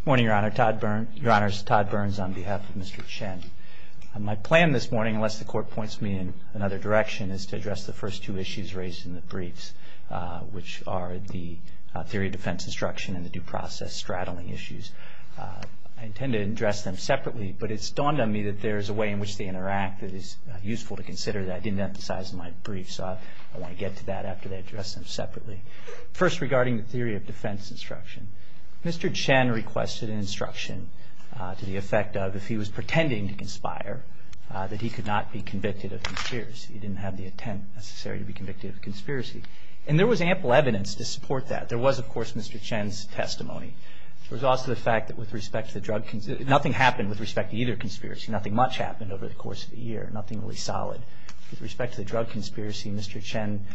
Good morning, Your Honor. Todd Burns on behalf of Mr. Chen. My plan this morning, unless the Court points me in another direction, is to address the first two issues raised in the briefs, which are the theory of defense instruction and the due process straddling issues. I intend to address them separately, but it's dawned on me that there is a way in which they interact that is useful to consider that I didn't emphasize in my brief, so I want to get to that after I address them separately. First, regarding the theory of defense instruction. Mr. Chen requested an instruction to the effect of, if he was pretending to conspire, that he could not be convicted of conspiracy. He didn't have the intent necessary to be convicted of a conspiracy. And there was ample evidence to support that. There was, of course, Mr. Chen's testimony. There was also the fact that with respect to the drug conspiracy, nothing happened with respect to either conspiracy. Nothing much happened over the course of a year, nothing really solid. With respect to the drug conspiracy, Mr. Chen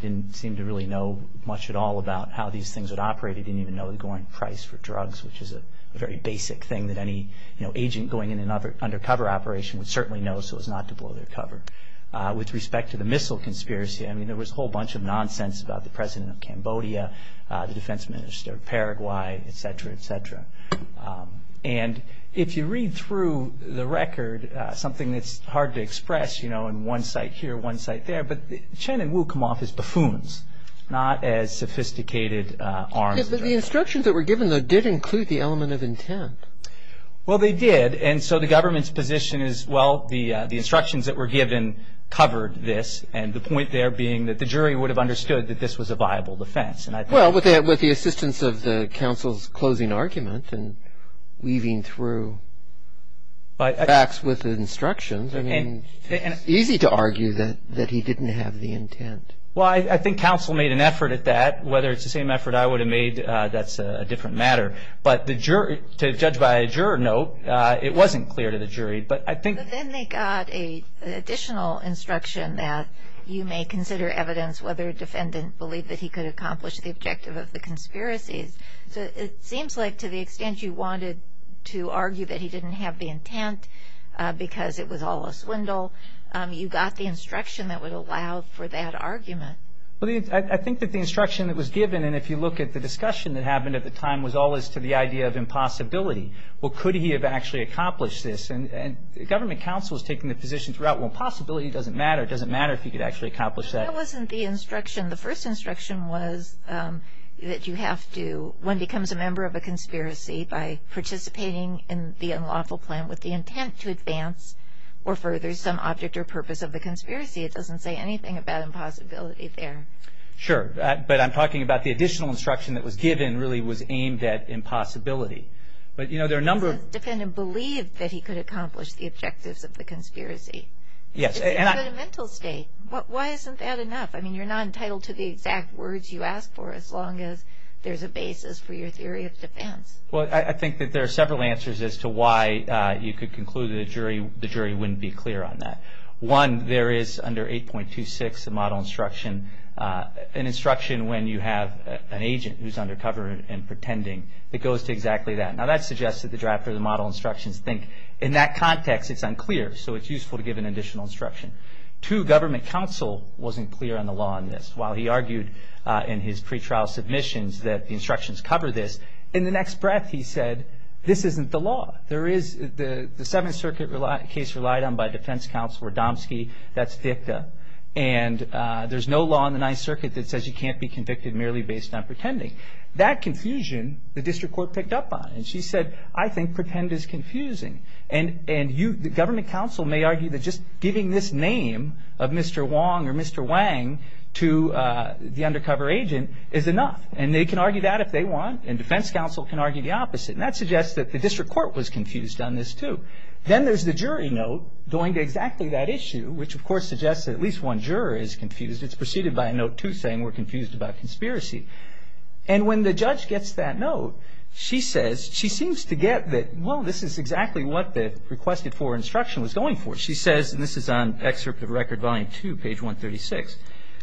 didn't seem to really know much at all about how these things would operate. He didn't even know the going price for drugs, which is a very basic thing that any agent going in an undercover operation would certainly know so as not to blow their cover. With respect to the missile conspiracy, I mean, there was a whole bunch of nonsense about the president of Cambodia, the defense minister of Paraguay, et cetera, et cetera. And if you read through the record, something that's hard to express, you know, in one site here, one site there, but Chen and Wu come off as buffoons, not as sophisticated arms. But the instructions that were given, though, did include the element of intent. Well, they did. And so the government's position is, well, the instructions that were given covered this, and the point there being that the jury would have understood that this was a viable defense. Well, with the assistance of the counsel's closing argument and weaving through facts with instructions, I mean, it's easy to argue that he didn't have the intent. Well, I think counsel made an effort at that. Whether it's the same effort I would have made, that's a different matter. But to judge by a juror note, it wasn't clear to the jury. But then they got an additional instruction that you may consider evidence whether a defendant believed that he could accomplish the objective of the conspiracies. So it seems like to the extent you wanted to argue that he didn't have the intent because it was all a swindle, you got the instruction that would allow for that argument. Well, I think that the instruction that was given, and if you look at the discussion that happened at the time, was all as to the idea of impossibility. Well, could he have actually accomplished this? And government counsel was taking the position throughout, well, impossibility doesn't matter. It doesn't matter if he could actually accomplish that. That wasn't the instruction. The first instruction was that you have to, one becomes a member of a conspiracy by participating in the unlawful plan with the intent to advance or further some object or purpose of the conspiracy. It doesn't say anything about impossibility there. Sure. But I'm talking about the additional instruction that was given really was aimed at impossibility. But, you know, there are a number of The defendant believed that he could accomplish the objectives of the conspiracy. Yes. But he's in a mental state. Why isn't that enough? I mean, you're not entitled to the exact words you ask for as long as there's a basis for your theory of defense. Well, I think that there are several answers as to why you could conclude the jury wouldn't be clear on that. One, there is under 8.26, the model instruction, an instruction when you have an agent who's undercover and pretending that goes to exactly that. Now, that suggests that the draft of the model instructions think in that context it's unclear, so it's useful to give an additional instruction. Two, government counsel wasn't clear on the law in this. While he argued in his pretrial submissions that the instructions cover this, in the next breath he said, this isn't the law. There is the Seventh Circuit case relied on by defense counsel Radomski, that's dicta. And there's no law in the Ninth Circuit that says you can't be convicted merely based on pretending. That confusion the district court picked up on. And she said, I think pretend is confusing. And government counsel may argue that just giving this name of Mr. Wong or Mr. Wang to the undercover agent is enough. And they can argue that if they want, and defense counsel can argue the opposite. And that suggests that the district court was confused on this, too. Then there's the jury note going to exactly that issue, which, of course, suggests that at least one juror is confused. It's preceded by a note, too, saying we're confused about conspiracy. And when the judge gets that note, she says, she seems to get that, well, this is exactly what the requested for instruction was going for. She says, and this is on excerpt of Record Volume 2, page 136.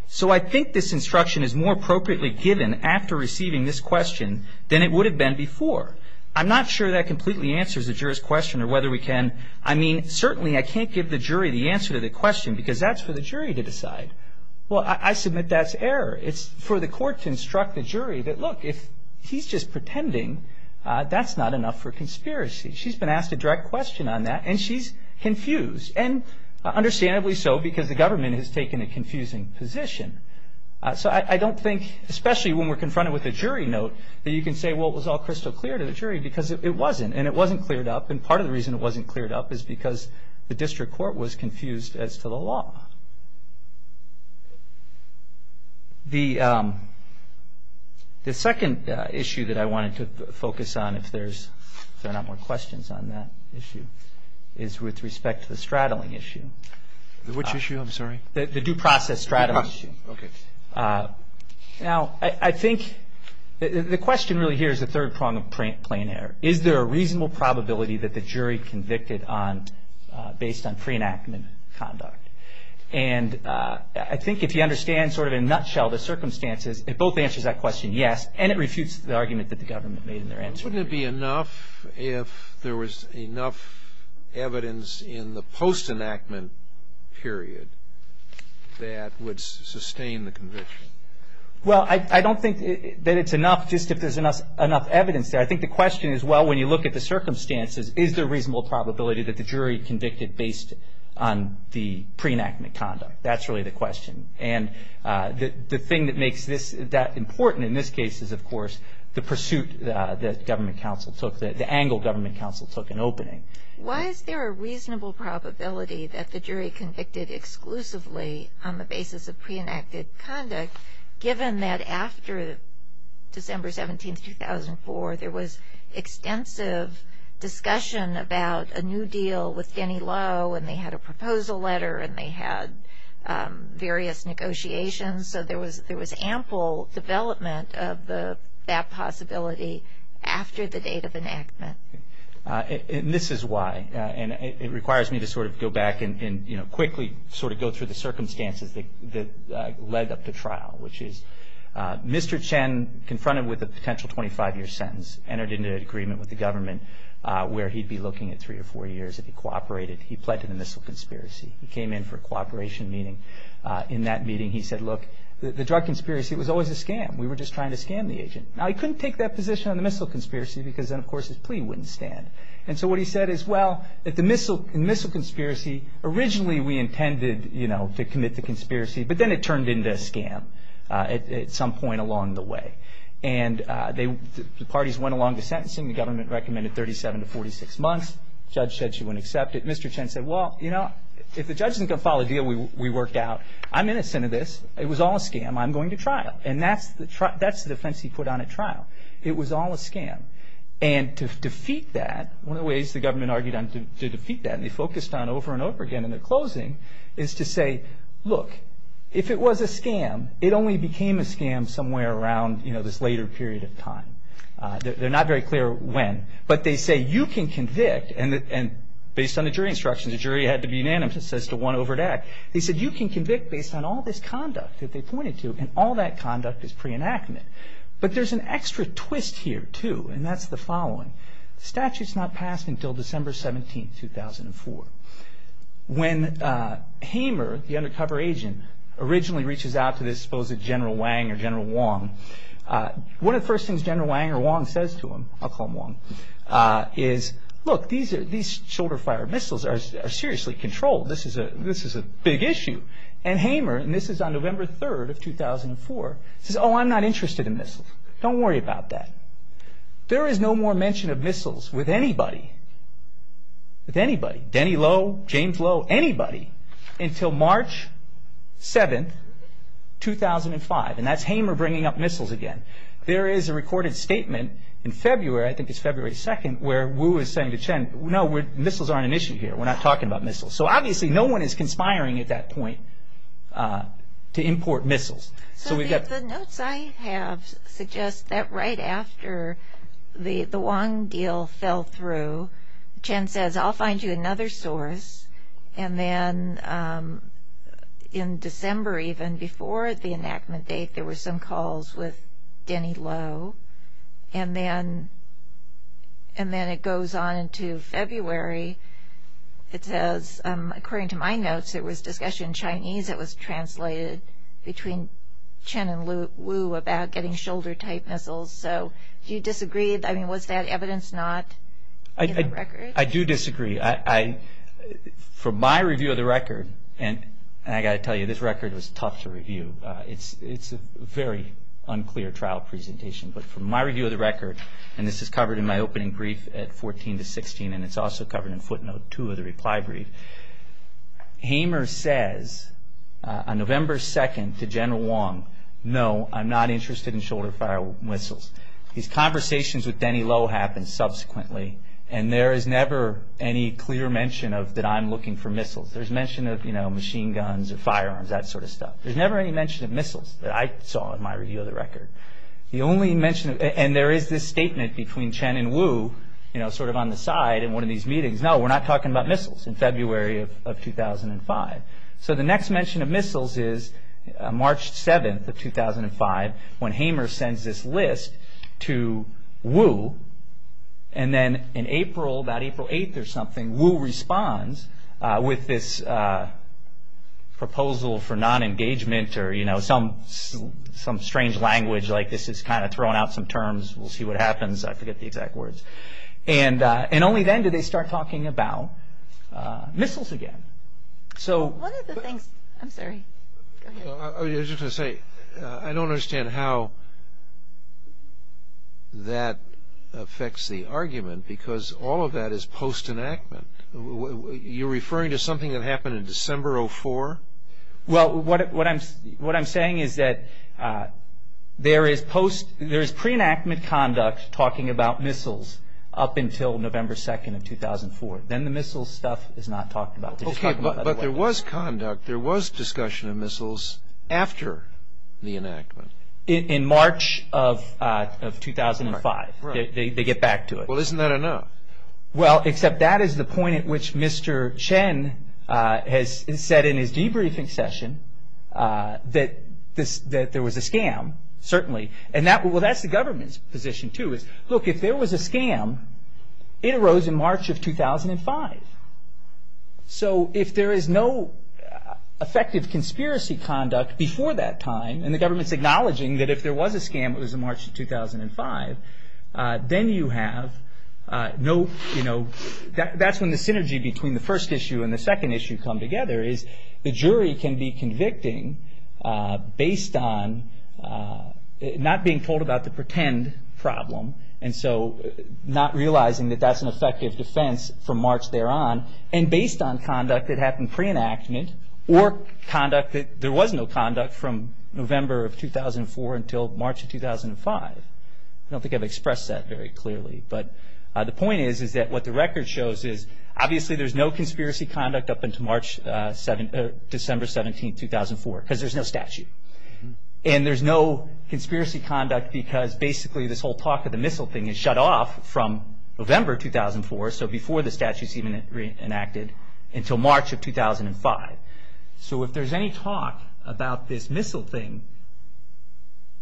So I think this instruction is more appropriately given after receiving this question than it would have been before. I'm not sure that completely answers the juror's question or whether we can, I mean, certainly I can't give the jury the answer to the question because that's for the jury to decide. Well, I submit that's error. It's for the court to instruct the jury that, look, if he's just pretending, that's not enough for conspiracy. She's been asked a direct question on that, and she's confused, and understandably so because the government has taken a confusing position. So I don't think, especially when we're confronted with a jury note, that you can say, well, it was all crystal clear to the jury because it wasn't, and it wasn't cleared up. And part of the reason it wasn't cleared up is because the district court was confused as to the law. The second issue that I wanted to focus on, if there's not more questions on that issue, is with respect to the straddling issue. Which issue? I'm sorry. The due process straddling issue. Okay. Now, I think the question really here is the third prong of plain error. Is there a reasonable probability that the jury convicted based on free enactment conduct? And I think if you understand sort of in a nutshell the circumstances, it both answers that question yes, and it refutes the argument that the government made in their answer. Wouldn't it be enough if there was enough evidence in the post-enactment period that would sustain the conviction? Well, I don't think that it's enough just if there's enough evidence there. I think the question is, well, when you look at the circumstances, is there a reasonable probability that the jury convicted based on the pre-enactment conduct? That's really the question. And the thing that makes this that important in this case is, of course, the pursuit that government counsel took, the angle government counsel took in opening. Why is there a reasonable probability that the jury convicted exclusively on the basis of pre-enacted conduct, given that after December 17, 2004, there was extensive discussion about a new deal with Denny Lowe, and they had a proposal letter, and they had various negotiations. So there was ample development of that possibility after the date of enactment. And this is why, and it requires me to sort of go back and quickly sort of go through the circumstances that led up to trial, which is Mr. Chen, confronted with a potential 25-year sentence, entered into an agreement with the government where he'd be looking at three or four years if he cooperated. He pled to the missile conspiracy. He came in for a cooperation meeting. In that meeting, he said, look, the drug conspiracy was always a scam. We were just trying to scam the agent. Now, he couldn't take that position on the missile conspiracy because then, of course, his plea wouldn't stand. And so what he said is, well, the missile conspiracy, originally we intended to commit the conspiracy, but then it turned into a scam at some point along the way. And the parties went along to sentencing. The government recommended 37 to 46 months. The judge said she wouldn't accept it. Mr. Chen said, well, you know, if the judge isn't going to file a deal, we worked out. I'm innocent of this. It was all a scam. I'm going to trial. And that's the defense he put on at trial. It was all a scam. And to defeat that, one of the ways the government argued to defeat that, and they focused on over and over again in the closing, is to say, look, if it was a scam, it only became a scam somewhere around, you know, this later period of time. They're not very clear when. But they say you can convict. And based on the jury instructions, the jury had to be unanimous as to one over that. They said you can convict based on all this conduct that they pointed to, and all that conduct is pre-enactment. But there's an extra twist here, too, and that's the following. The statute's not passed until December 17, 2004. When Hamer, the undercover agent, originally reaches out to this supposed General Wang or General Wong, one of the first things General Wang or Wong says to him, I'll call him Wong, is, look, these shoulder fire missiles are seriously controlled. This is a big issue. And Hamer, and this is on November 3, 2004, says, oh, I'm not interested in missiles. Don't worry about that. There is no more mention of missiles with anybody, with anybody, Denny Lowe, James Lowe, anybody, until March 7, 2005, and that's Hamer bringing up missiles again. There is a recorded statement in February, I think it's February 2, where Wu is saying to Chen, no, missiles aren't an issue here. We're not talking about missiles. So obviously no one is conspiring at that point to import missiles. So we've got... So the notes I have suggest that right after the Wong deal fell through, Chen says, I'll find you another source. And then in December even, before the enactment date, there were some calls with Denny Lowe. And then it goes on into February. It says, according to my notes, there was discussion in Chinese. It was translated between Chen and Wu about getting shoulder-type missiles. So do you disagree? I mean, was that evidence not in the record? I do disagree. From my review of the record, and I've got to tell you, this record was tough to review. It's a very unclear trial presentation. But from my review of the record, and this is covered in my opening brief at 14 to 16, and it's also covered in footnote 2 of the reply brief, Hamer says on November 2 to General Wong, no, I'm not interested in shoulder-type missiles. These conversations with Denny Lowe happened subsequently, and there is never any clear mention that I'm looking for missiles. There's never any mention of missiles that I saw in my review of the record. And there is this statement between Chen and Wu sort of on the side in one of these meetings, no, we're not talking about missiles, in February of 2005. So the next mention of missiles is March 7 of 2005, when Hamer sends this list to Wu. And then in April, about April 8 or something, Wu responds with this proposal for non-engagement or some strange language like this is kind of throwing out some terms. We'll see what happens. I forget the exact words. And only then do they start talking about missiles again. One of the things, I'm sorry, go ahead. I was just going to say I don't understand how that affects the argument because all of that is post-enactment. You're referring to something that happened in December of 2004? Well, what I'm saying is that there is pre-enactment conduct talking about missiles up until November 2 of 2004. Then the missiles stuff is not talked about. Okay, but there was conduct. There was discussion of missiles after the enactment. In March of 2005. Right. They get back to it. Well, isn't that enough? Well, except that is the point at which Mr. Chen has said in his debriefing session that there was a scam, certainly. Well, that's the government's position, too. Look, if there was a scam, it arose in March of 2005. So if there is no effective conspiracy conduct before that time, and the government's acknowledging that if there was a scam it was in March of 2005, then you have no, you know, that's when the synergy between the first issue and the second issue come together is the jury can be convicting based on not being told about the pretend problem, and so not realizing that that's an effective defense from March thereon, and based on conduct that happened pre-enactment or conduct that there was no conduct from November of 2004 until March of 2005. I don't think I've expressed that very clearly. But the point is that what the record shows is obviously there's no conspiracy conduct up until December 17, 2004, because there's no statute. And there's no conspiracy conduct because basically this whole talk of the missile thing is shut off from November 2004, so before the statute is even re-enacted, until March of 2005. So if there's any talk about this missile thing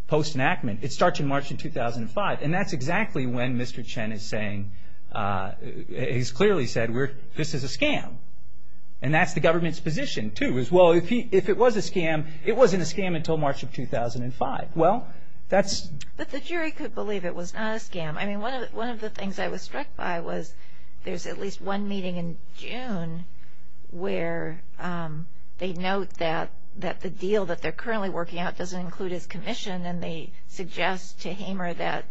post-enactment, it starts in March of 2005, and that's exactly when Mr. Chen is saying, he's clearly said, this is a scam. And that's the government's position, too, is, well, if it was a scam, it wasn't a scam until March of 2005. Well, that's... But the jury could believe it was not a scam. I mean, one of the things I was struck by was there's at least one meeting in June where they note that the deal that they're currently working out doesn't include his commission, and they suggest to Hamer that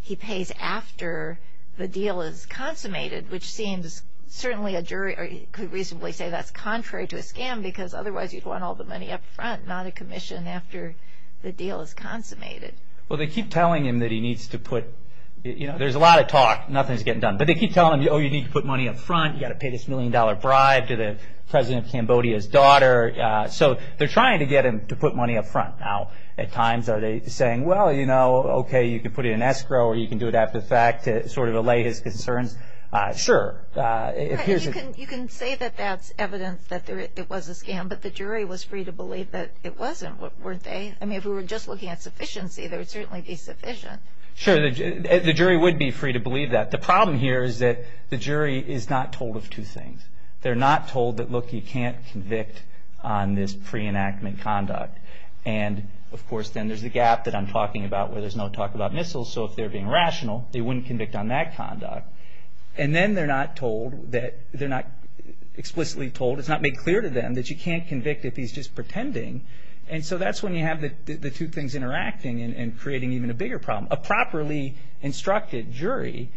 he pays after the deal is consummated, which seems certainly a jury could reasonably say that's contrary to a scam because otherwise you'd want all the money up front, not a commission after the deal is consummated. Well, they keep telling him that he needs to put... You know, there's a lot of talk. Nothing's getting done. But they keep telling him, oh, you need to put money up front. You've got to pay this million-dollar bribe to the president of Cambodia's daughter. So they're trying to get him to put money up front. Now, at times are they saying, well, you know, okay, you can put it in escrow or you can do it after the fact to sort of allay his concerns? Sure. You can say that that's evidence that it was a scam, but the jury was free to believe that it wasn't, weren't they? I mean, if we were just looking at sufficiency, there would certainly be sufficient. Sure, the jury would be free to believe that. The problem here is that the jury is not told of two things. They're not told that, look, you can't convict on this pre-enactment conduct. And, of course, then there's the gap that I'm talking about where there's no talk about missiles. So if they're being rational, they wouldn't convict on that conduct. And then they're not told that they're not explicitly told, it's not made clear to them that you can't convict if he's just pretending. And so that's when you have the two things interacting and creating even a bigger problem. A properly instructed jury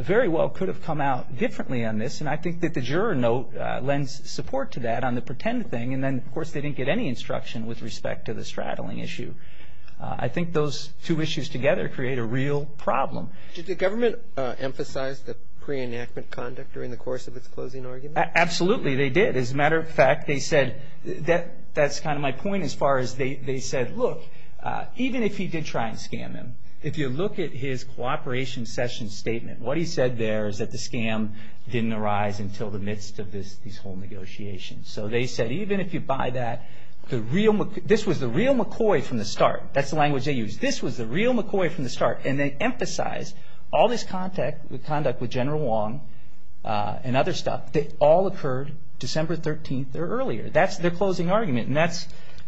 very well could have come out differently on this. And I think that the juror note lends support to that on the pretend thing. And then, of course, they didn't get any instruction with respect to the straddling issue. I think those two issues together create a real problem. Did the government emphasize the pre-enactment conduct during the course of its closing argument? Absolutely, they did. As a matter of fact, they said that's kind of my point as far as they said, look, even if he did try and scam him, if you look at his cooperation session statement, what he said there is that the scam didn't arise until the midst of these whole negotiations. So they said even if you buy that, this was the real McCoy from the start. That's the language they used. This was the real McCoy from the start. And they emphasized all this conduct with General Wong and other stuff. It all occurred December 13th or earlier. That's their closing argument.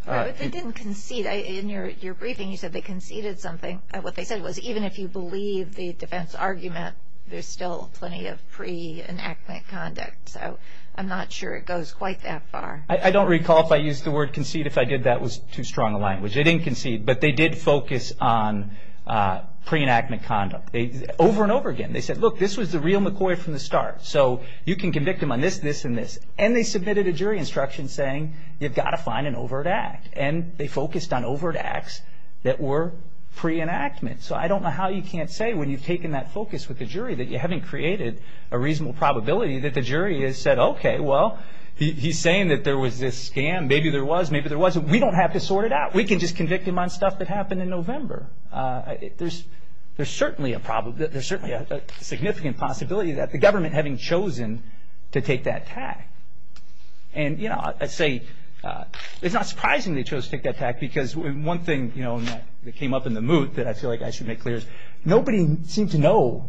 They didn't concede. In your briefing, you said they conceded something. What they said was even if you believe the defense argument, there's still plenty of pre-enactment conduct. So I'm not sure it goes quite that far. I don't recall if I used the word concede. If I did, that was too strong a language. They didn't concede, but they did focus on pre-enactment conduct over and over again. They said, look, this was the real McCoy from the start. So you can convict him on this, this, and this. And they submitted a jury instruction saying you've got to find an overt act. And they focused on overt acts that were pre-enactment. So I don't know how you can't say when you've taken that focus with the jury that you haven't created a reasonable probability that the jury has said, okay, well, he's saying that there was this scam. Maybe there was. Maybe there wasn't. We don't have to sort it out. We can just convict him on stuff that happened in November. There's certainly a problem. There's certainly a significant possibility that the government having chosen to take that tack. And, you know, I say it's not surprising they chose to take that tack because one thing, you know, that came up in the moot that I feel like I should make clear is nobody seemed to know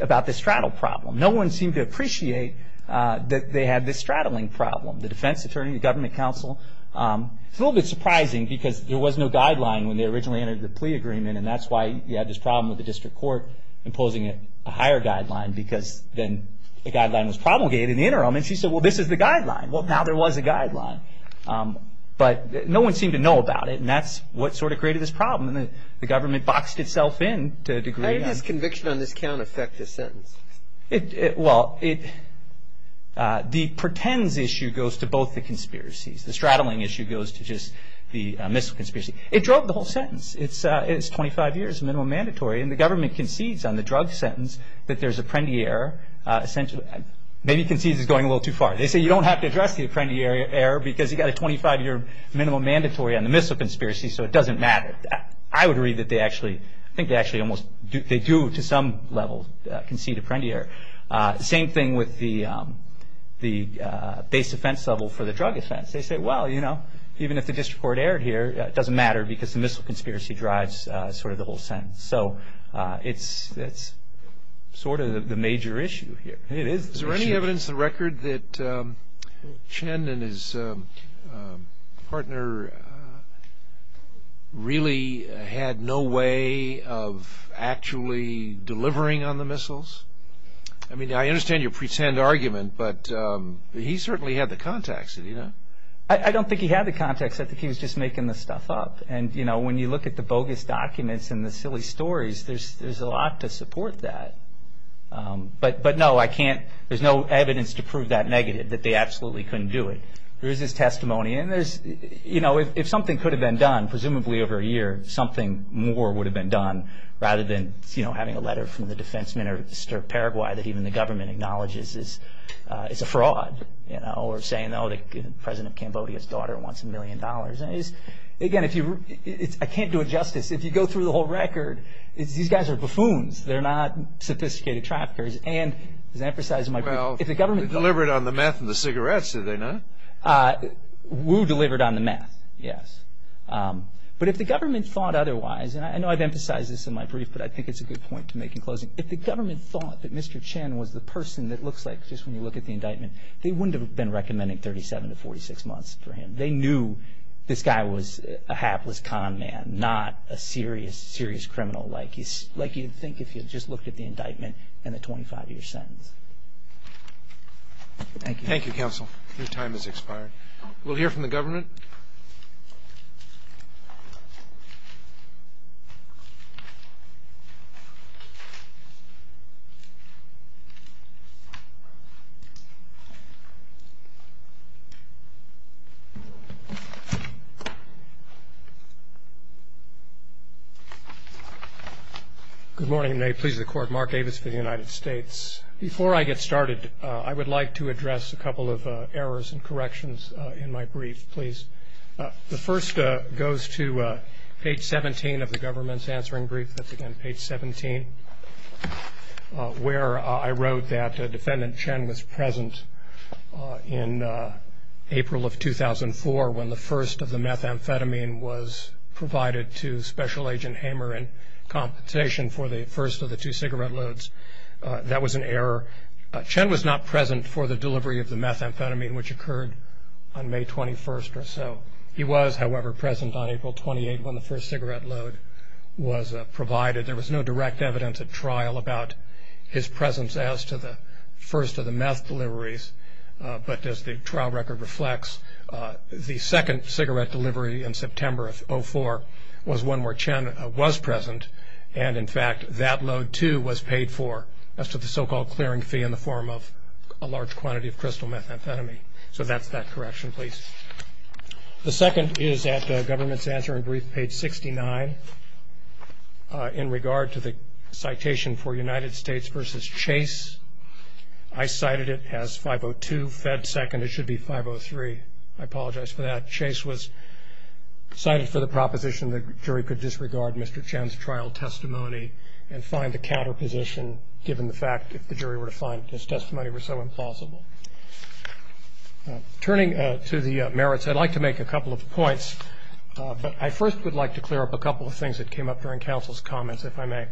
about the straddle problem. No one seemed to appreciate that they had this straddling problem. The defense attorney, the government counsel. It's a little bit surprising because there was no guideline when they originally entered the plea agreement, and that's why you had this problem with the district court imposing a higher guideline because then the guideline was promulgated in the interim. And she said, well, this is the guideline. Well, now there was a guideline. But no one seemed to know about it, and that's what sort of created this problem. And the government boxed itself in to a degree. How did this conviction on this count affect this sentence? Well, the pretends issue goes to both the conspiracies. The straddling issue goes to just the missile conspiracy. It drove the whole sentence. It's 25 years minimum mandatory, and the government concedes on the drug sentence that there's a Prendier. Maybe concedes is going a little too far. They say you don't have to address the Prendier error because you've got a 25-year minimum mandatory on the missile conspiracy, so it doesn't matter. I would agree that they actually do to some level concede a Prendier error. Same thing with the base offense level for the drug offense. They say, well, you know, even if the district court erred here, it doesn't matter because the missile conspiracy drives sort of the whole sentence. So it's sort of the major issue here. Is there any evidence to the record that Chen and his partner really had no way of actually delivering on the missiles? I mean, I understand your pretend argument, but he certainly had the contacts, didn't he? I don't think he had the contacts. I think he was just making the stuff up. And, you know, when you look at the bogus documents and the silly stories, there's a lot to support that. But no, I can't, there's no evidence to prove that negative, that they absolutely couldn't do it. There is this testimony, and there's, you know, if something could have been done, presumably over a year, something more would have been done, rather than, you know, having a letter from the defense minister of Paraguay that even the government acknowledges is a fraud, you know, or saying, oh, the president of Cambodia's daughter wants a million dollars. Again, I can't do it justice. If you go through the whole record, these guys are buffoons. They're not sophisticated traffickers. And, as I emphasized in my brief, if the government thought- Well, they delivered on the meth and the cigarettes, did they not? Wu delivered on the meth, yes. But if the government thought otherwise, and I know I've emphasized this in my brief, but I think it's a good point to make in closing. If the government thought that Mr. Chen was the person that looks like, just when you look at the indictment, they wouldn't have been recommending 37 to 46 months for him. They knew this guy was a hapless con man, not a serious, serious criminal, like you'd think if you just looked at the indictment and the 25-year sentence. Thank you. Thank you, counsel. Your time has expired. We'll hear from the government. Good morning, and may it please the Court. Mark Davis for the United States. Before I get started, I would like to address a couple of errors and corrections in my brief, please. The first goes to page 17 of the government's answering brief. That's, again, page 17, where I wrote that Defendant Chen was present in April of 2004 when the first of the methamphetamine was provided to Special Agent Hamer in compensation for the first of the two cigarette loads. That was an error. Chen was not present for the delivery of the methamphetamine, which occurred on May 21st or so. He was, however, present on April 28th when the first cigarette load was provided. There was no direct evidence at trial about his presence as to the first of the meth deliveries, but as the trial record reflects, the second cigarette delivery in September of 2004 was one where Chen was present, and, in fact, that load, too, was paid for as to the so-called clearing fee in the form of a large quantity of crystal methamphetamine. So that's that correction, please. The second is at government's answering brief, page 69, in regard to the citation for United States v. Chase. I cited it as 502 Fed 2nd. It should be 503. I apologize for that. Chase was cited for the proposition the jury could disregard Mr. Chen's trial testimony and find the counterposition given the fact that the jury were to find his testimony were so implausible. Turning to the merits, I'd like to make a couple of points, but I first would like to clear up a couple of things that came up during counsel's comments, if I may.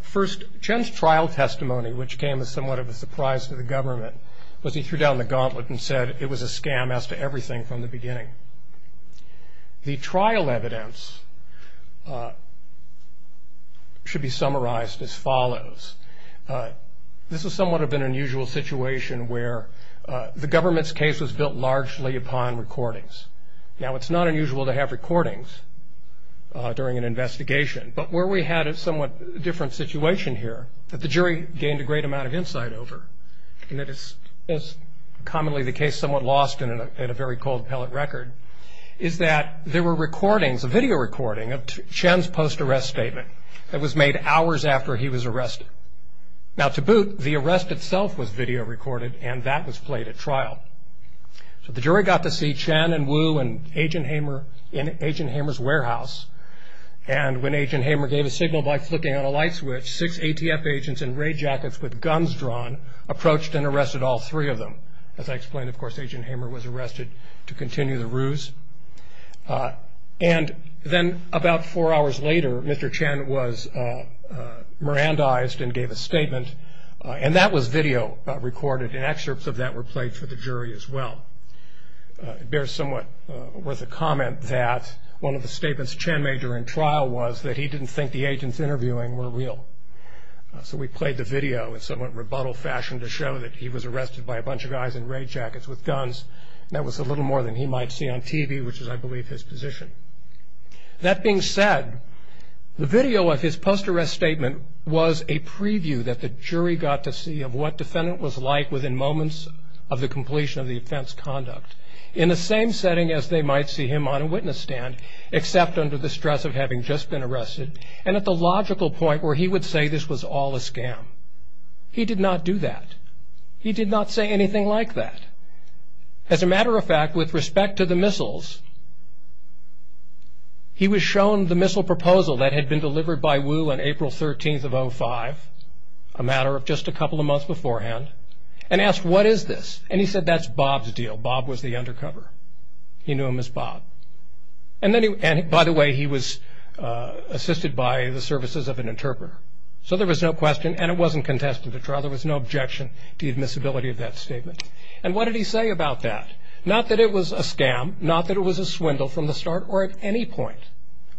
First, Chen's trial testimony, which came as somewhat of a surprise to the government, was he threw down the gauntlet and said it was a scam as to everything from the beginning. The trial evidence should be summarized as follows. This is somewhat of an unusual situation where the government's case was built largely upon recordings. Now, it's not unusual to have recordings during an investigation, but where we had a somewhat different situation here that the jury gained a great amount of insight over, and that is commonly the case somewhat lost at a very cold pellet record, is that there were recordings, a video recording of Chen's post-arrest statement that was made hours after he was arrested. Now, to boot, the arrest itself was video recorded, and that was played at trial. So the jury got to see Chen and Wu in Agent Hamer's warehouse, and when Agent Hamer gave a signal by flicking on a light switch, six ATF agents in ray jackets with guns drawn approached and arrested all three of them. As I explained, of course, Agent Hamer was arrested to continue the ruse. And then about four hours later, Mr. Chen was Mirandized and gave a statement, and that was video recorded, and excerpts of that were played for the jury as well. It bears somewhat worth a comment that one of the statements Chen made during trial was that he didn't think the agents interviewing were real. So we played the video in somewhat rebuttal fashion to show that he was arrested by a bunch of guys in ray jackets with guns, and that was a little more than he might see on TV, which is, I believe, his position. That being said, the video of his post-arrest statement was a preview that the jury got to see of what defendant was like within moments of the completion of the offense conduct. In the same setting as they might see him on a witness stand, except under the stress of having just been arrested, and at the logical point where he would say this was all a scam. He did not do that. He did not say anything like that. As a matter of fact, with respect to the missiles, he was shown the missile proposal that had been delivered by Wu on April 13th of 05, a matter of just a couple of months beforehand, and asked, what is this? And he said, that's Bob's deal. Bob was the undercover. He knew him as Bob. And, by the way, he was assisted by the services of an interpreter. So there was no question, and it wasn't contested at trial, there was no objection to the admissibility of that statement. And what did he say about that? Not that it was a scam, not that it was a swindle from the start or at any point.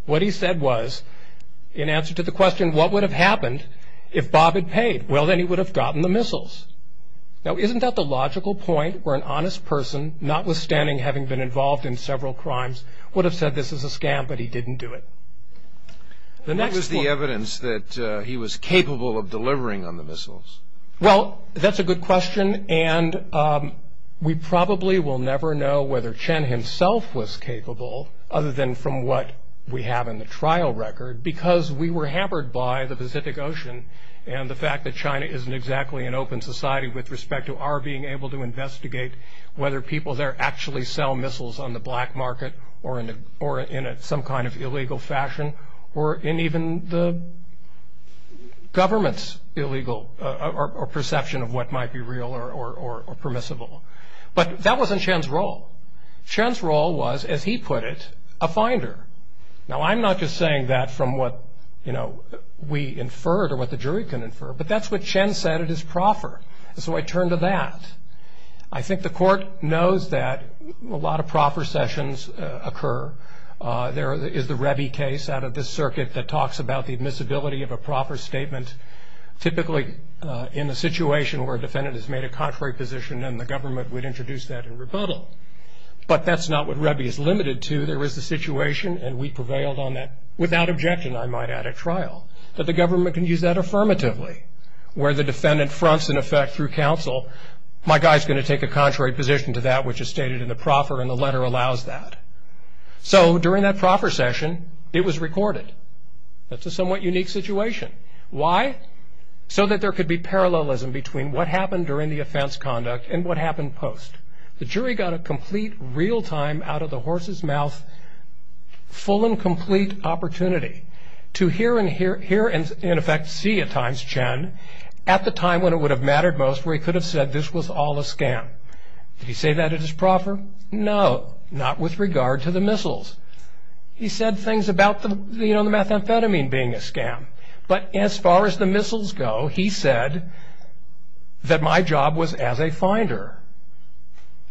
What he said was, in answer to the question, what would have happened if Bob had paid? Well, then he would have gotten the missiles. Now, isn't that the logical point where an honest person, notwithstanding having been involved in several crimes, would have said this is a scam, but he didn't do it? What was the evidence that he was capable of delivering on the missiles? Well, that's a good question, and we probably will never know whether Chen himself was capable, other than from what we have in the trial record, because we were hampered by the Pacific Ocean and the fact that China isn't exactly an open society with respect to our being able to investigate whether people there actually sell missiles on the black market or in some kind of illegal fashion, or in even the government's illegal perception of what might be real or permissible. But that wasn't Chen's role. Chen's role was, as he put it, a finder. Now, I'm not just saying that from what we inferred or what the jury can infer, but that's what Chen said at his proffer, and so I turn to that. I think the court knows that a lot of proffer sessions occur. There is the Revy case out of this circuit that talks about the admissibility of a proffer statement, typically in a situation where a defendant has made a contrary position and the government would introduce that in rebuttal. But that's not what Revy is limited to. There is a situation, and we prevailed on that without objection, I might add, at trial, that the government can use that affirmatively, where the defendant fronts, in effect, through counsel, my guy's going to take a contrary position to that which is stated in the proffer, and the letter allows that. So during that proffer session, it was recorded. That's a somewhat unique situation. Why? So that there could be parallelism between what happened during the offense conduct and what happened post. The jury got a complete, real-time, out-of-the-horse's-mouth, full and complete opportunity to hear and, in effect, see at times Chen at the time when it would have mattered most where he could have said this was all a scam. Did he say that at his proffer? No, not with regard to the missiles. He said things about the methamphetamine being a scam. But as far as the missiles go, he said that my job was as a finder,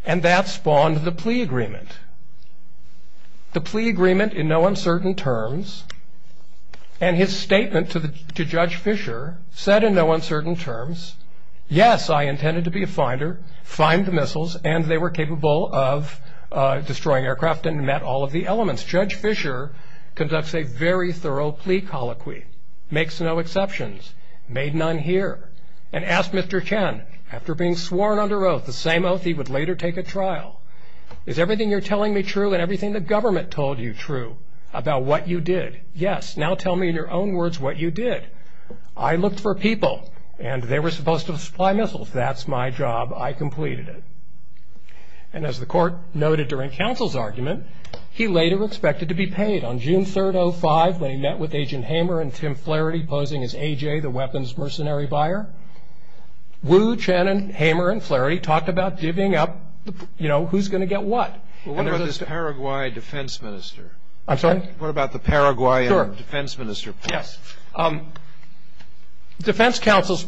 and that spawned the plea agreement. The plea agreement, in no uncertain terms, and his statement to Judge Fisher said in no uncertain terms, yes, I intended to be a finder, find the missiles, and they were capable of destroying aircraft and met all of the elements. As Judge Fisher conducts a very thorough plea colloquy, makes no exceptions, made none here, and asked Mr. Chen after being sworn under oath the same oath he would later take at trial, is everything you're telling me true and everything the government told you true about what you did? Yes. Now tell me in your own words what you did. I looked for people, and they were supposed to supply missiles. That's my job. I completed it. And as the court noted during counsel's argument, he later expected to be paid. On June 3rd, 2005, when he met with Agent Hamer and Tim Flaherty, posing as A.J., the weapons mercenary buyer, Wu, Chen, Hamer, and Flaherty talked about giving up, you know, who's going to get what. What about this Paraguay defense minister? I'm sorry? What about the Paraguayan defense minister? Yes. Defense counsel's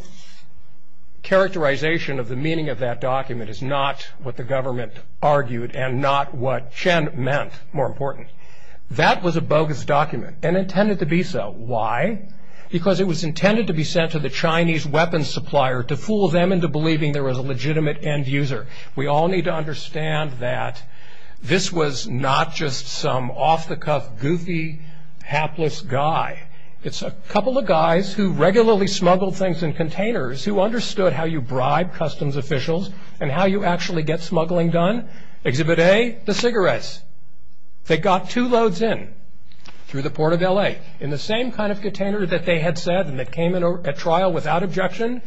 characterization of the meaning of that document is not what the government argued and not what Chen meant, more important. That was a bogus document and intended to be so. Why? Because it was intended to be sent to the Chinese weapons supplier to fool them into believing there was a legitimate end user. We all need to understand that this was not just some off-the-cuff, goofy, hapless guy. It's a couple of guys who regularly smuggled things in containers who understood how you bribe customs officials and how you actually get smuggling done. Exhibit A, the cigarettes. They got two loads in through the Port of L.A. In the same kind of container that they had said and that came in at trial without objection,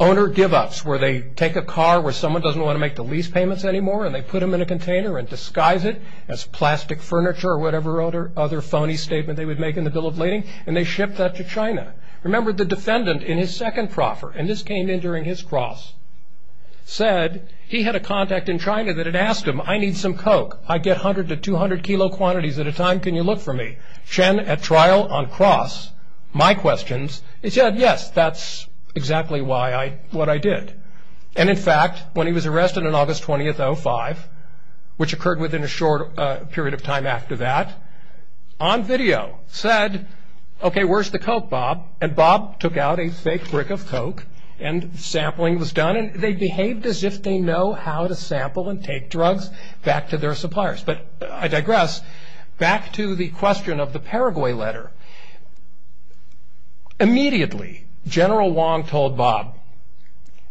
owner give-ups, where they take a car where someone doesn't want to make the lease payments anymore and they put them in a container and disguise it as plastic furniture or whatever other phony statement they would make in the Bill of Lading, and they ship that to China. Remember, the defendant in his second proffer, and this came in during his cross, said he had a contact in China that had asked him, I need some coke. I get 100 to 200 kilo quantities at a time. Can you look for me? Chen, at trial on cross, my questions. He said, yes, that's exactly what I did. In fact, when he was arrested on August 20th, 2005, which occurred within a short period of time after that, on video said, okay, where's the coke, Bob? Bob took out a fake brick of coke and sampling was done. They behaved as if they know how to sample and take drugs back to their suppliers. I digress. Back to the question of the Paraguay letter. Immediately, General Wong told Bob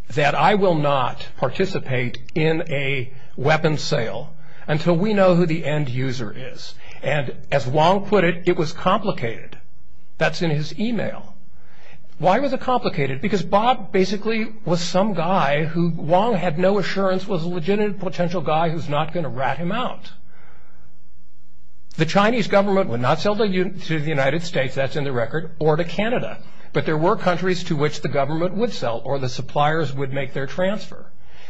that I will not participate in a weapons sale until we know who the end user is. And as Wong put it, it was complicated. That's in his email. Why was it complicated? Because Bob basically was some guy who Wong had no assurance was a legitimate potential guy who's not going to rat him out. The Chinese government would not sell to the United States, that's in the record, or to Canada. But there were countries to which the government would sell or the suppliers would make their transfer.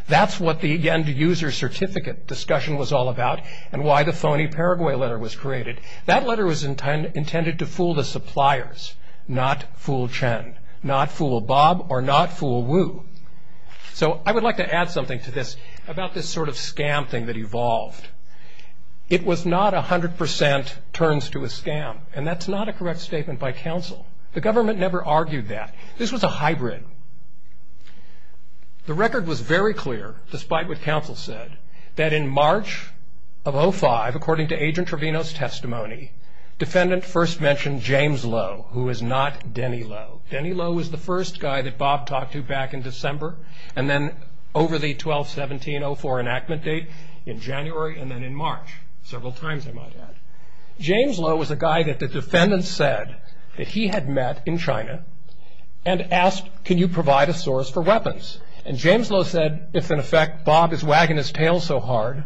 That's what the end user certificate discussion was all about and why the phony Paraguay letter was created. That letter was intended to fool the suppliers, not fool Chen, not fool Bob, or not fool Wu. So I would like to add something to this about this sort of scam thing that evolved. It was not 100% turns to a scam, and that's not a correct statement by counsel. The government never argued that. This was a hybrid. The record was very clear, despite what counsel said, that in March of 05, according to Agent Trevino's testimony, defendant first mentioned James Lowe, who was not Denny Lowe. Denny Lowe was the first guy that Bob talked to back in December and then over the 12-17-04 enactment date in January and then in March, several times I might add. James Lowe was a guy that the defendant said that he had met in China and asked, can you provide a source for weapons? And James Lowe said, if in effect Bob is wagging his tail so hard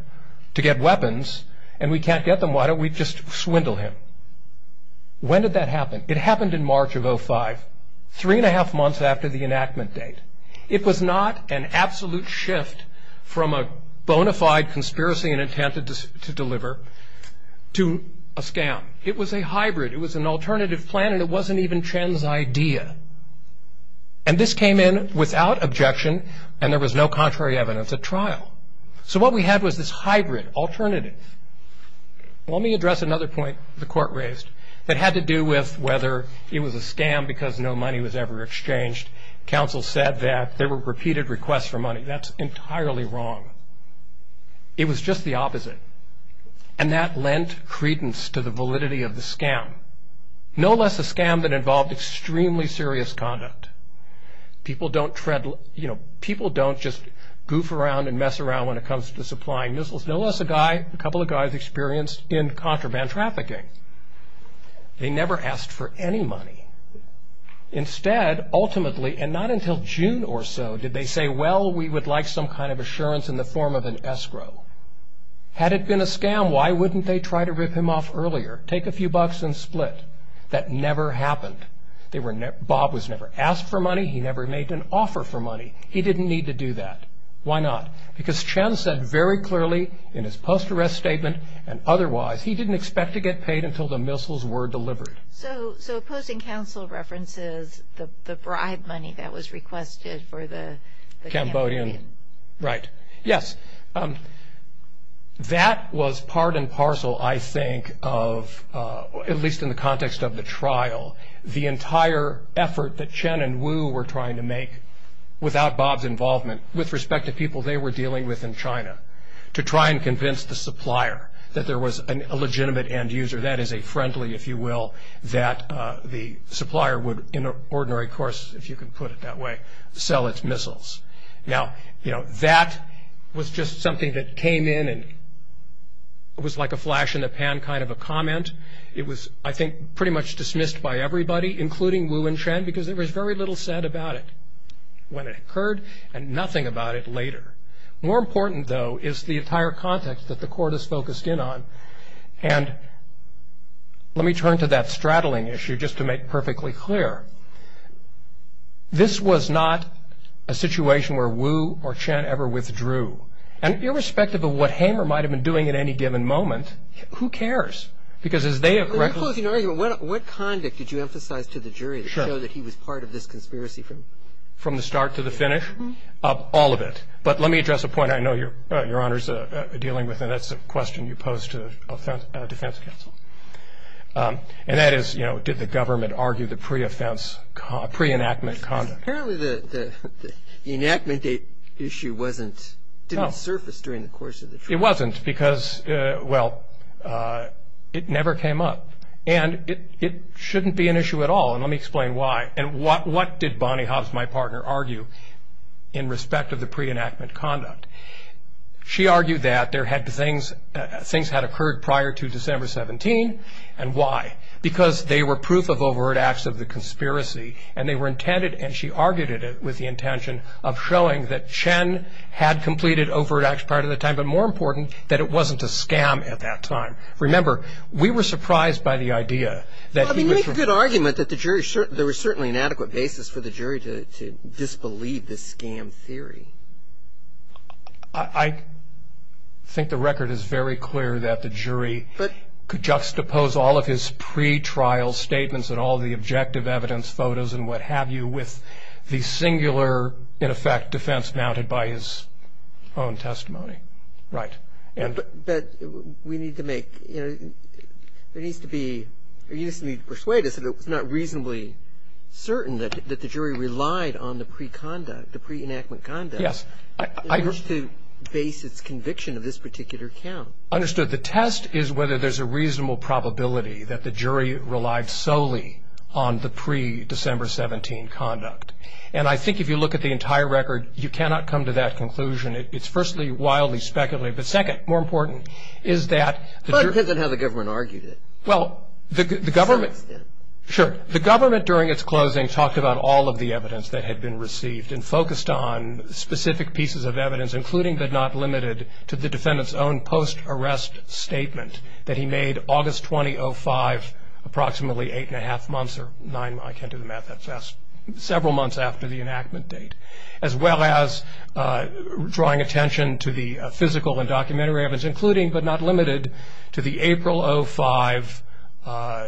to get weapons and we can't get them, why don't we just swindle him? When did that happen? It happened in March of 05, three-and-a-half months after the enactment date. It was not an absolute shift from a bona fide conspiracy and intent to deliver to a scam. It was a hybrid. It was an alternative plan, and it wasn't even Chen's idea. And this came in without objection, and there was no contrary evidence at trial. So what we had was this hybrid alternative. Let me address another point the court raised that had to do with whether it was a scam because no money was ever exchanged. Counsel said that there were repeated requests for money. That's entirely wrong. It was just the opposite, and that lent credence to the validity of the scam. No less a scam that involved extremely serious conduct. People don't just goof around and mess around when it comes to supplying missiles. No less a couple of guys experienced in contraband trafficking. They never asked for any money. Instead, ultimately, and not until June or so, did they say, well, we would like some kind of assurance in the form of an escrow. Had it been a scam, why wouldn't they try to rip him off earlier, take a few bucks and split? That never happened. Bob was never asked for money. He never made an offer for money. He didn't need to do that. Why not? Because Chen said very clearly in his post-arrest statement and otherwise, he didn't expect to get paid until the missiles were delivered. So opposing counsel references the bribe money that was requested for the Cambodian. Right. Yes. That was part and parcel, I think, of, at least in the context of the trial, the entire effort that Chen and Wu were trying to make without Bob's involvement. With respect to people they were dealing with in China, to try and convince the supplier that there was a legitimate end user, that is a friendly, if you will, that the supplier would, in an ordinary course, if you can put it that way, sell its missiles. Now, that was just something that came in and was like a flash in the pan kind of a comment. It was, I think, pretty much dismissed by everybody, including Wu and Chen, because there was very little said about it. When it occurred, and nothing about it later. More important, though, is the entire context that the court is focused in on. And let me turn to that straddling issue, just to make perfectly clear. This was not a situation where Wu or Chen ever withdrew. And irrespective of what Hamer might have been doing at any given moment, who cares? Because as they have- In closing argument, what conduct did you emphasize to the jury- Sure. That he was part of this conspiracy from- From the start to the finish? Mm-hmm. All of it. But let me address a point I know Your Honor is dealing with, and that's a question you posed to defense counsel. And that is, did the government argue the pre-offense, pre-enactment conduct? Apparently the enactment issue didn't surface during the course of the trial. It wasn't, because, well, it never came up. And it shouldn't be an issue at all. And let me explain why. And what did Bonnie Hobbs, my partner, argue in respect of the pre-enactment conduct? She argued that things had occurred prior to December 17. And why? Because they were proof of overt acts of the conspiracy, and they were intended, and she argued it with the intention of showing that Chen had completed overt acts prior to that time, but more important, that it wasn't a scam at that time. Remember, we were surprised by the idea that he was- It's a good argument that there was certainly an adequate basis for the jury to disbelieve this scam theory. I think the record is very clear that the jury could juxtapose all of his pre-trial statements and all the objective evidence, photos, and what have you, with the singular, in effect, defense mounted by his own testimony. Right. But we need to make, you know, there needs to be, or you just need to persuade us that it's not reasonably certain that the jury relied on the pre-conduct, the pre-enactment conduct- Yes. In order to base its conviction of this particular count. Understood. The test is whether there's a reasonable probability that the jury relied solely on the pre-December 17 conduct. And I think if you look at the entire record, you cannot come to that conclusion. It's firstly wildly speculative, but second, more important, is that- But it depends on how the government argued it. Well, the government- To some extent. Sure. The government, during its closing, talked about all of the evidence that had been received and focused on specific pieces of evidence, including but not limited to the defendant's own post-arrest statement that he made August 2005, approximately eight and a half months, or nine, I can't do the math that fast, several months after the enactment date, as well as drawing attention to the physical and documentary evidence, including but not limited to the April 2005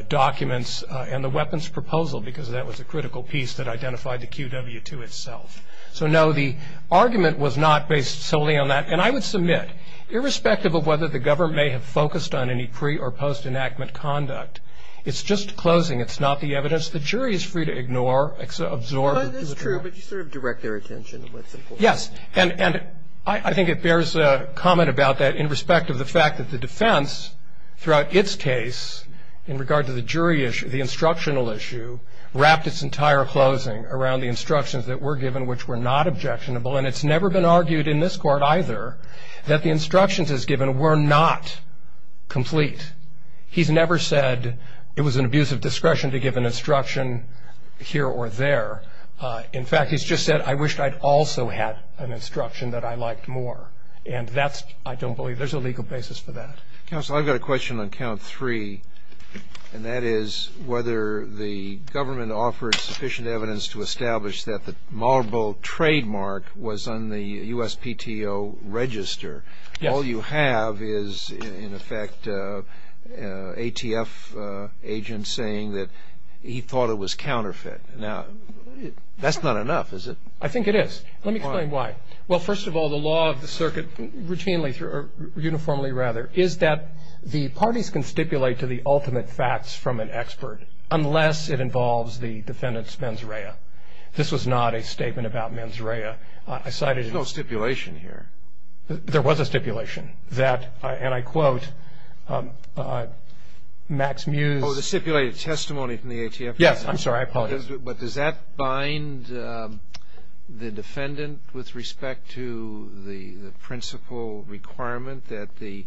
documents and the weapons proposal because that was a critical piece that identified the QW2 itself. So, no, the argument was not based solely on that. And I would submit, irrespective of whether the government may have focused on any pre- or post-enactment conduct, it's just closing. It's not the evidence. The jury is free to ignore, absorb- That's true, but you sort of direct their attention to what's important. Yes. And I think it bears comment about that in respect of the fact that the defense, throughout its case, in regard to the jury issue, the instructional issue, wrapped its entire closing around the instructions that were given, which were not objectionable. And it's never been argued in this court, either, that the instructions as given were not complete. He's never said it was an abuse of discretion to give an instruction here or there. In fact, he's just said, I wish I'd also had an instruction that I liked more. And that's, I don't believe there's a legal basis for that. Counsel, I've got a question on count three, and that is whether the government offered sufficient evidence to establish that the Marble trademark was on the USPTO register. Yes. All you have is, in effect, ATF agents saying that he thought it was counterfeit. Now, that's not enough, is it? I think it is. Let me explain why. Well, first of all, the law of the circuit routinely, or uniformly rather, is that the parties can stipulate to the ultimate facts from an expert, unless it involves the defendant's mens rea. This was not a statement about mens rea. I cited- There's no stipulation here. There was a stipulation that, and I quote, Max Mews- Oh, the stipulated testimony from the ATF- Yes, I'm sorry, I apologize. But does that bind the defendant with respect to the principle requirement that the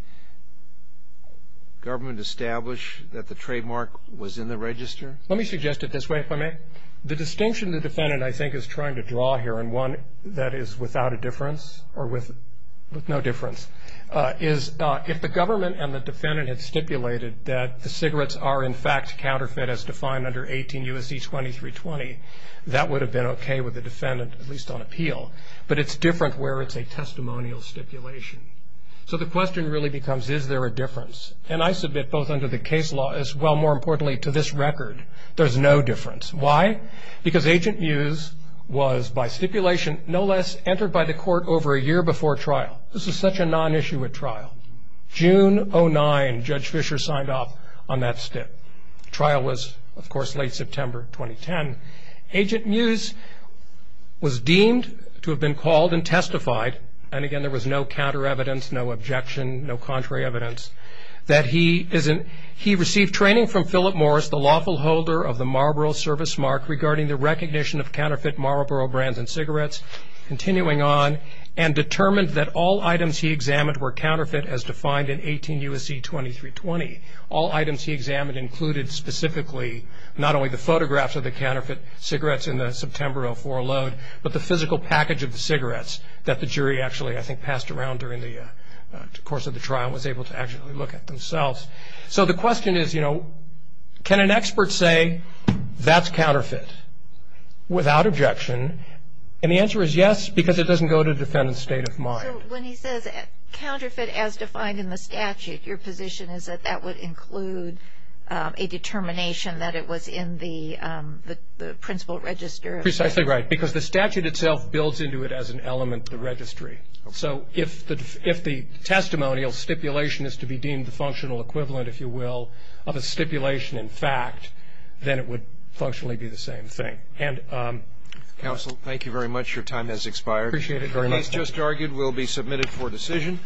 government establish that the trademark was in the register? Let me suggest it this way, if I may. The distinction the defendant, I think, is trying to draw here, and one that is without a difference, or with no difference, is if the government and the defendant had stipulated that the cigarettes are, in fact, counterfeit as defined under 18 U.S.C. 2320, that would have been okay with the defendant, at least on appeal. But it's different where it's a testimonial stipulation. So the question really becomes, is there a difference? And I submit, both under the case law as well, more importantly, to this record, there's no difference. Why? Because Agent Mews was, by stipulation, no less entered by the court over a year before trial. This is such a non-issue at trial. June 09, Judge Fischer signed off on that stip. Trial was, of course, late September 2010. Agent Mews was deemed to have been called and testified, and again there was no counter evidence, no objection, no contrary evidence, that he received training from Philip Morris, the lawful holder of the Marlboro Service Mark regarding the recognition of counterfeit Marlboro brands and cigarettes, continuing on, and determined that all items he examined were counterfeit as defined in 18 U.S.C. 2320. All items he examined included specifically not only the photographs of the counterfeit cigarettes in the September 04 load, but the physical package of the cigarettes that the jury actually, I think, passed around during the course of the trial and was able to actually look at themselves. So the question is, you know, can an expert say that's counterfeit without objection? And the answer is yes, because it doesn't go to the defendant's state of mind. So when he says counterfeit as defined in the statute, your position is that that would include a determination that it was in the principal register? Precisely right, because the statute itself builds into it as an element of the registry. So if the testimonial stipulation is to be deemed the functional equivalent, if you will, of a stipulation in fact, then it would functionally be the same thing. Counsel, thank you very much. Your time has expired. I appreciate it very much. The case just argued will be submitted for decision.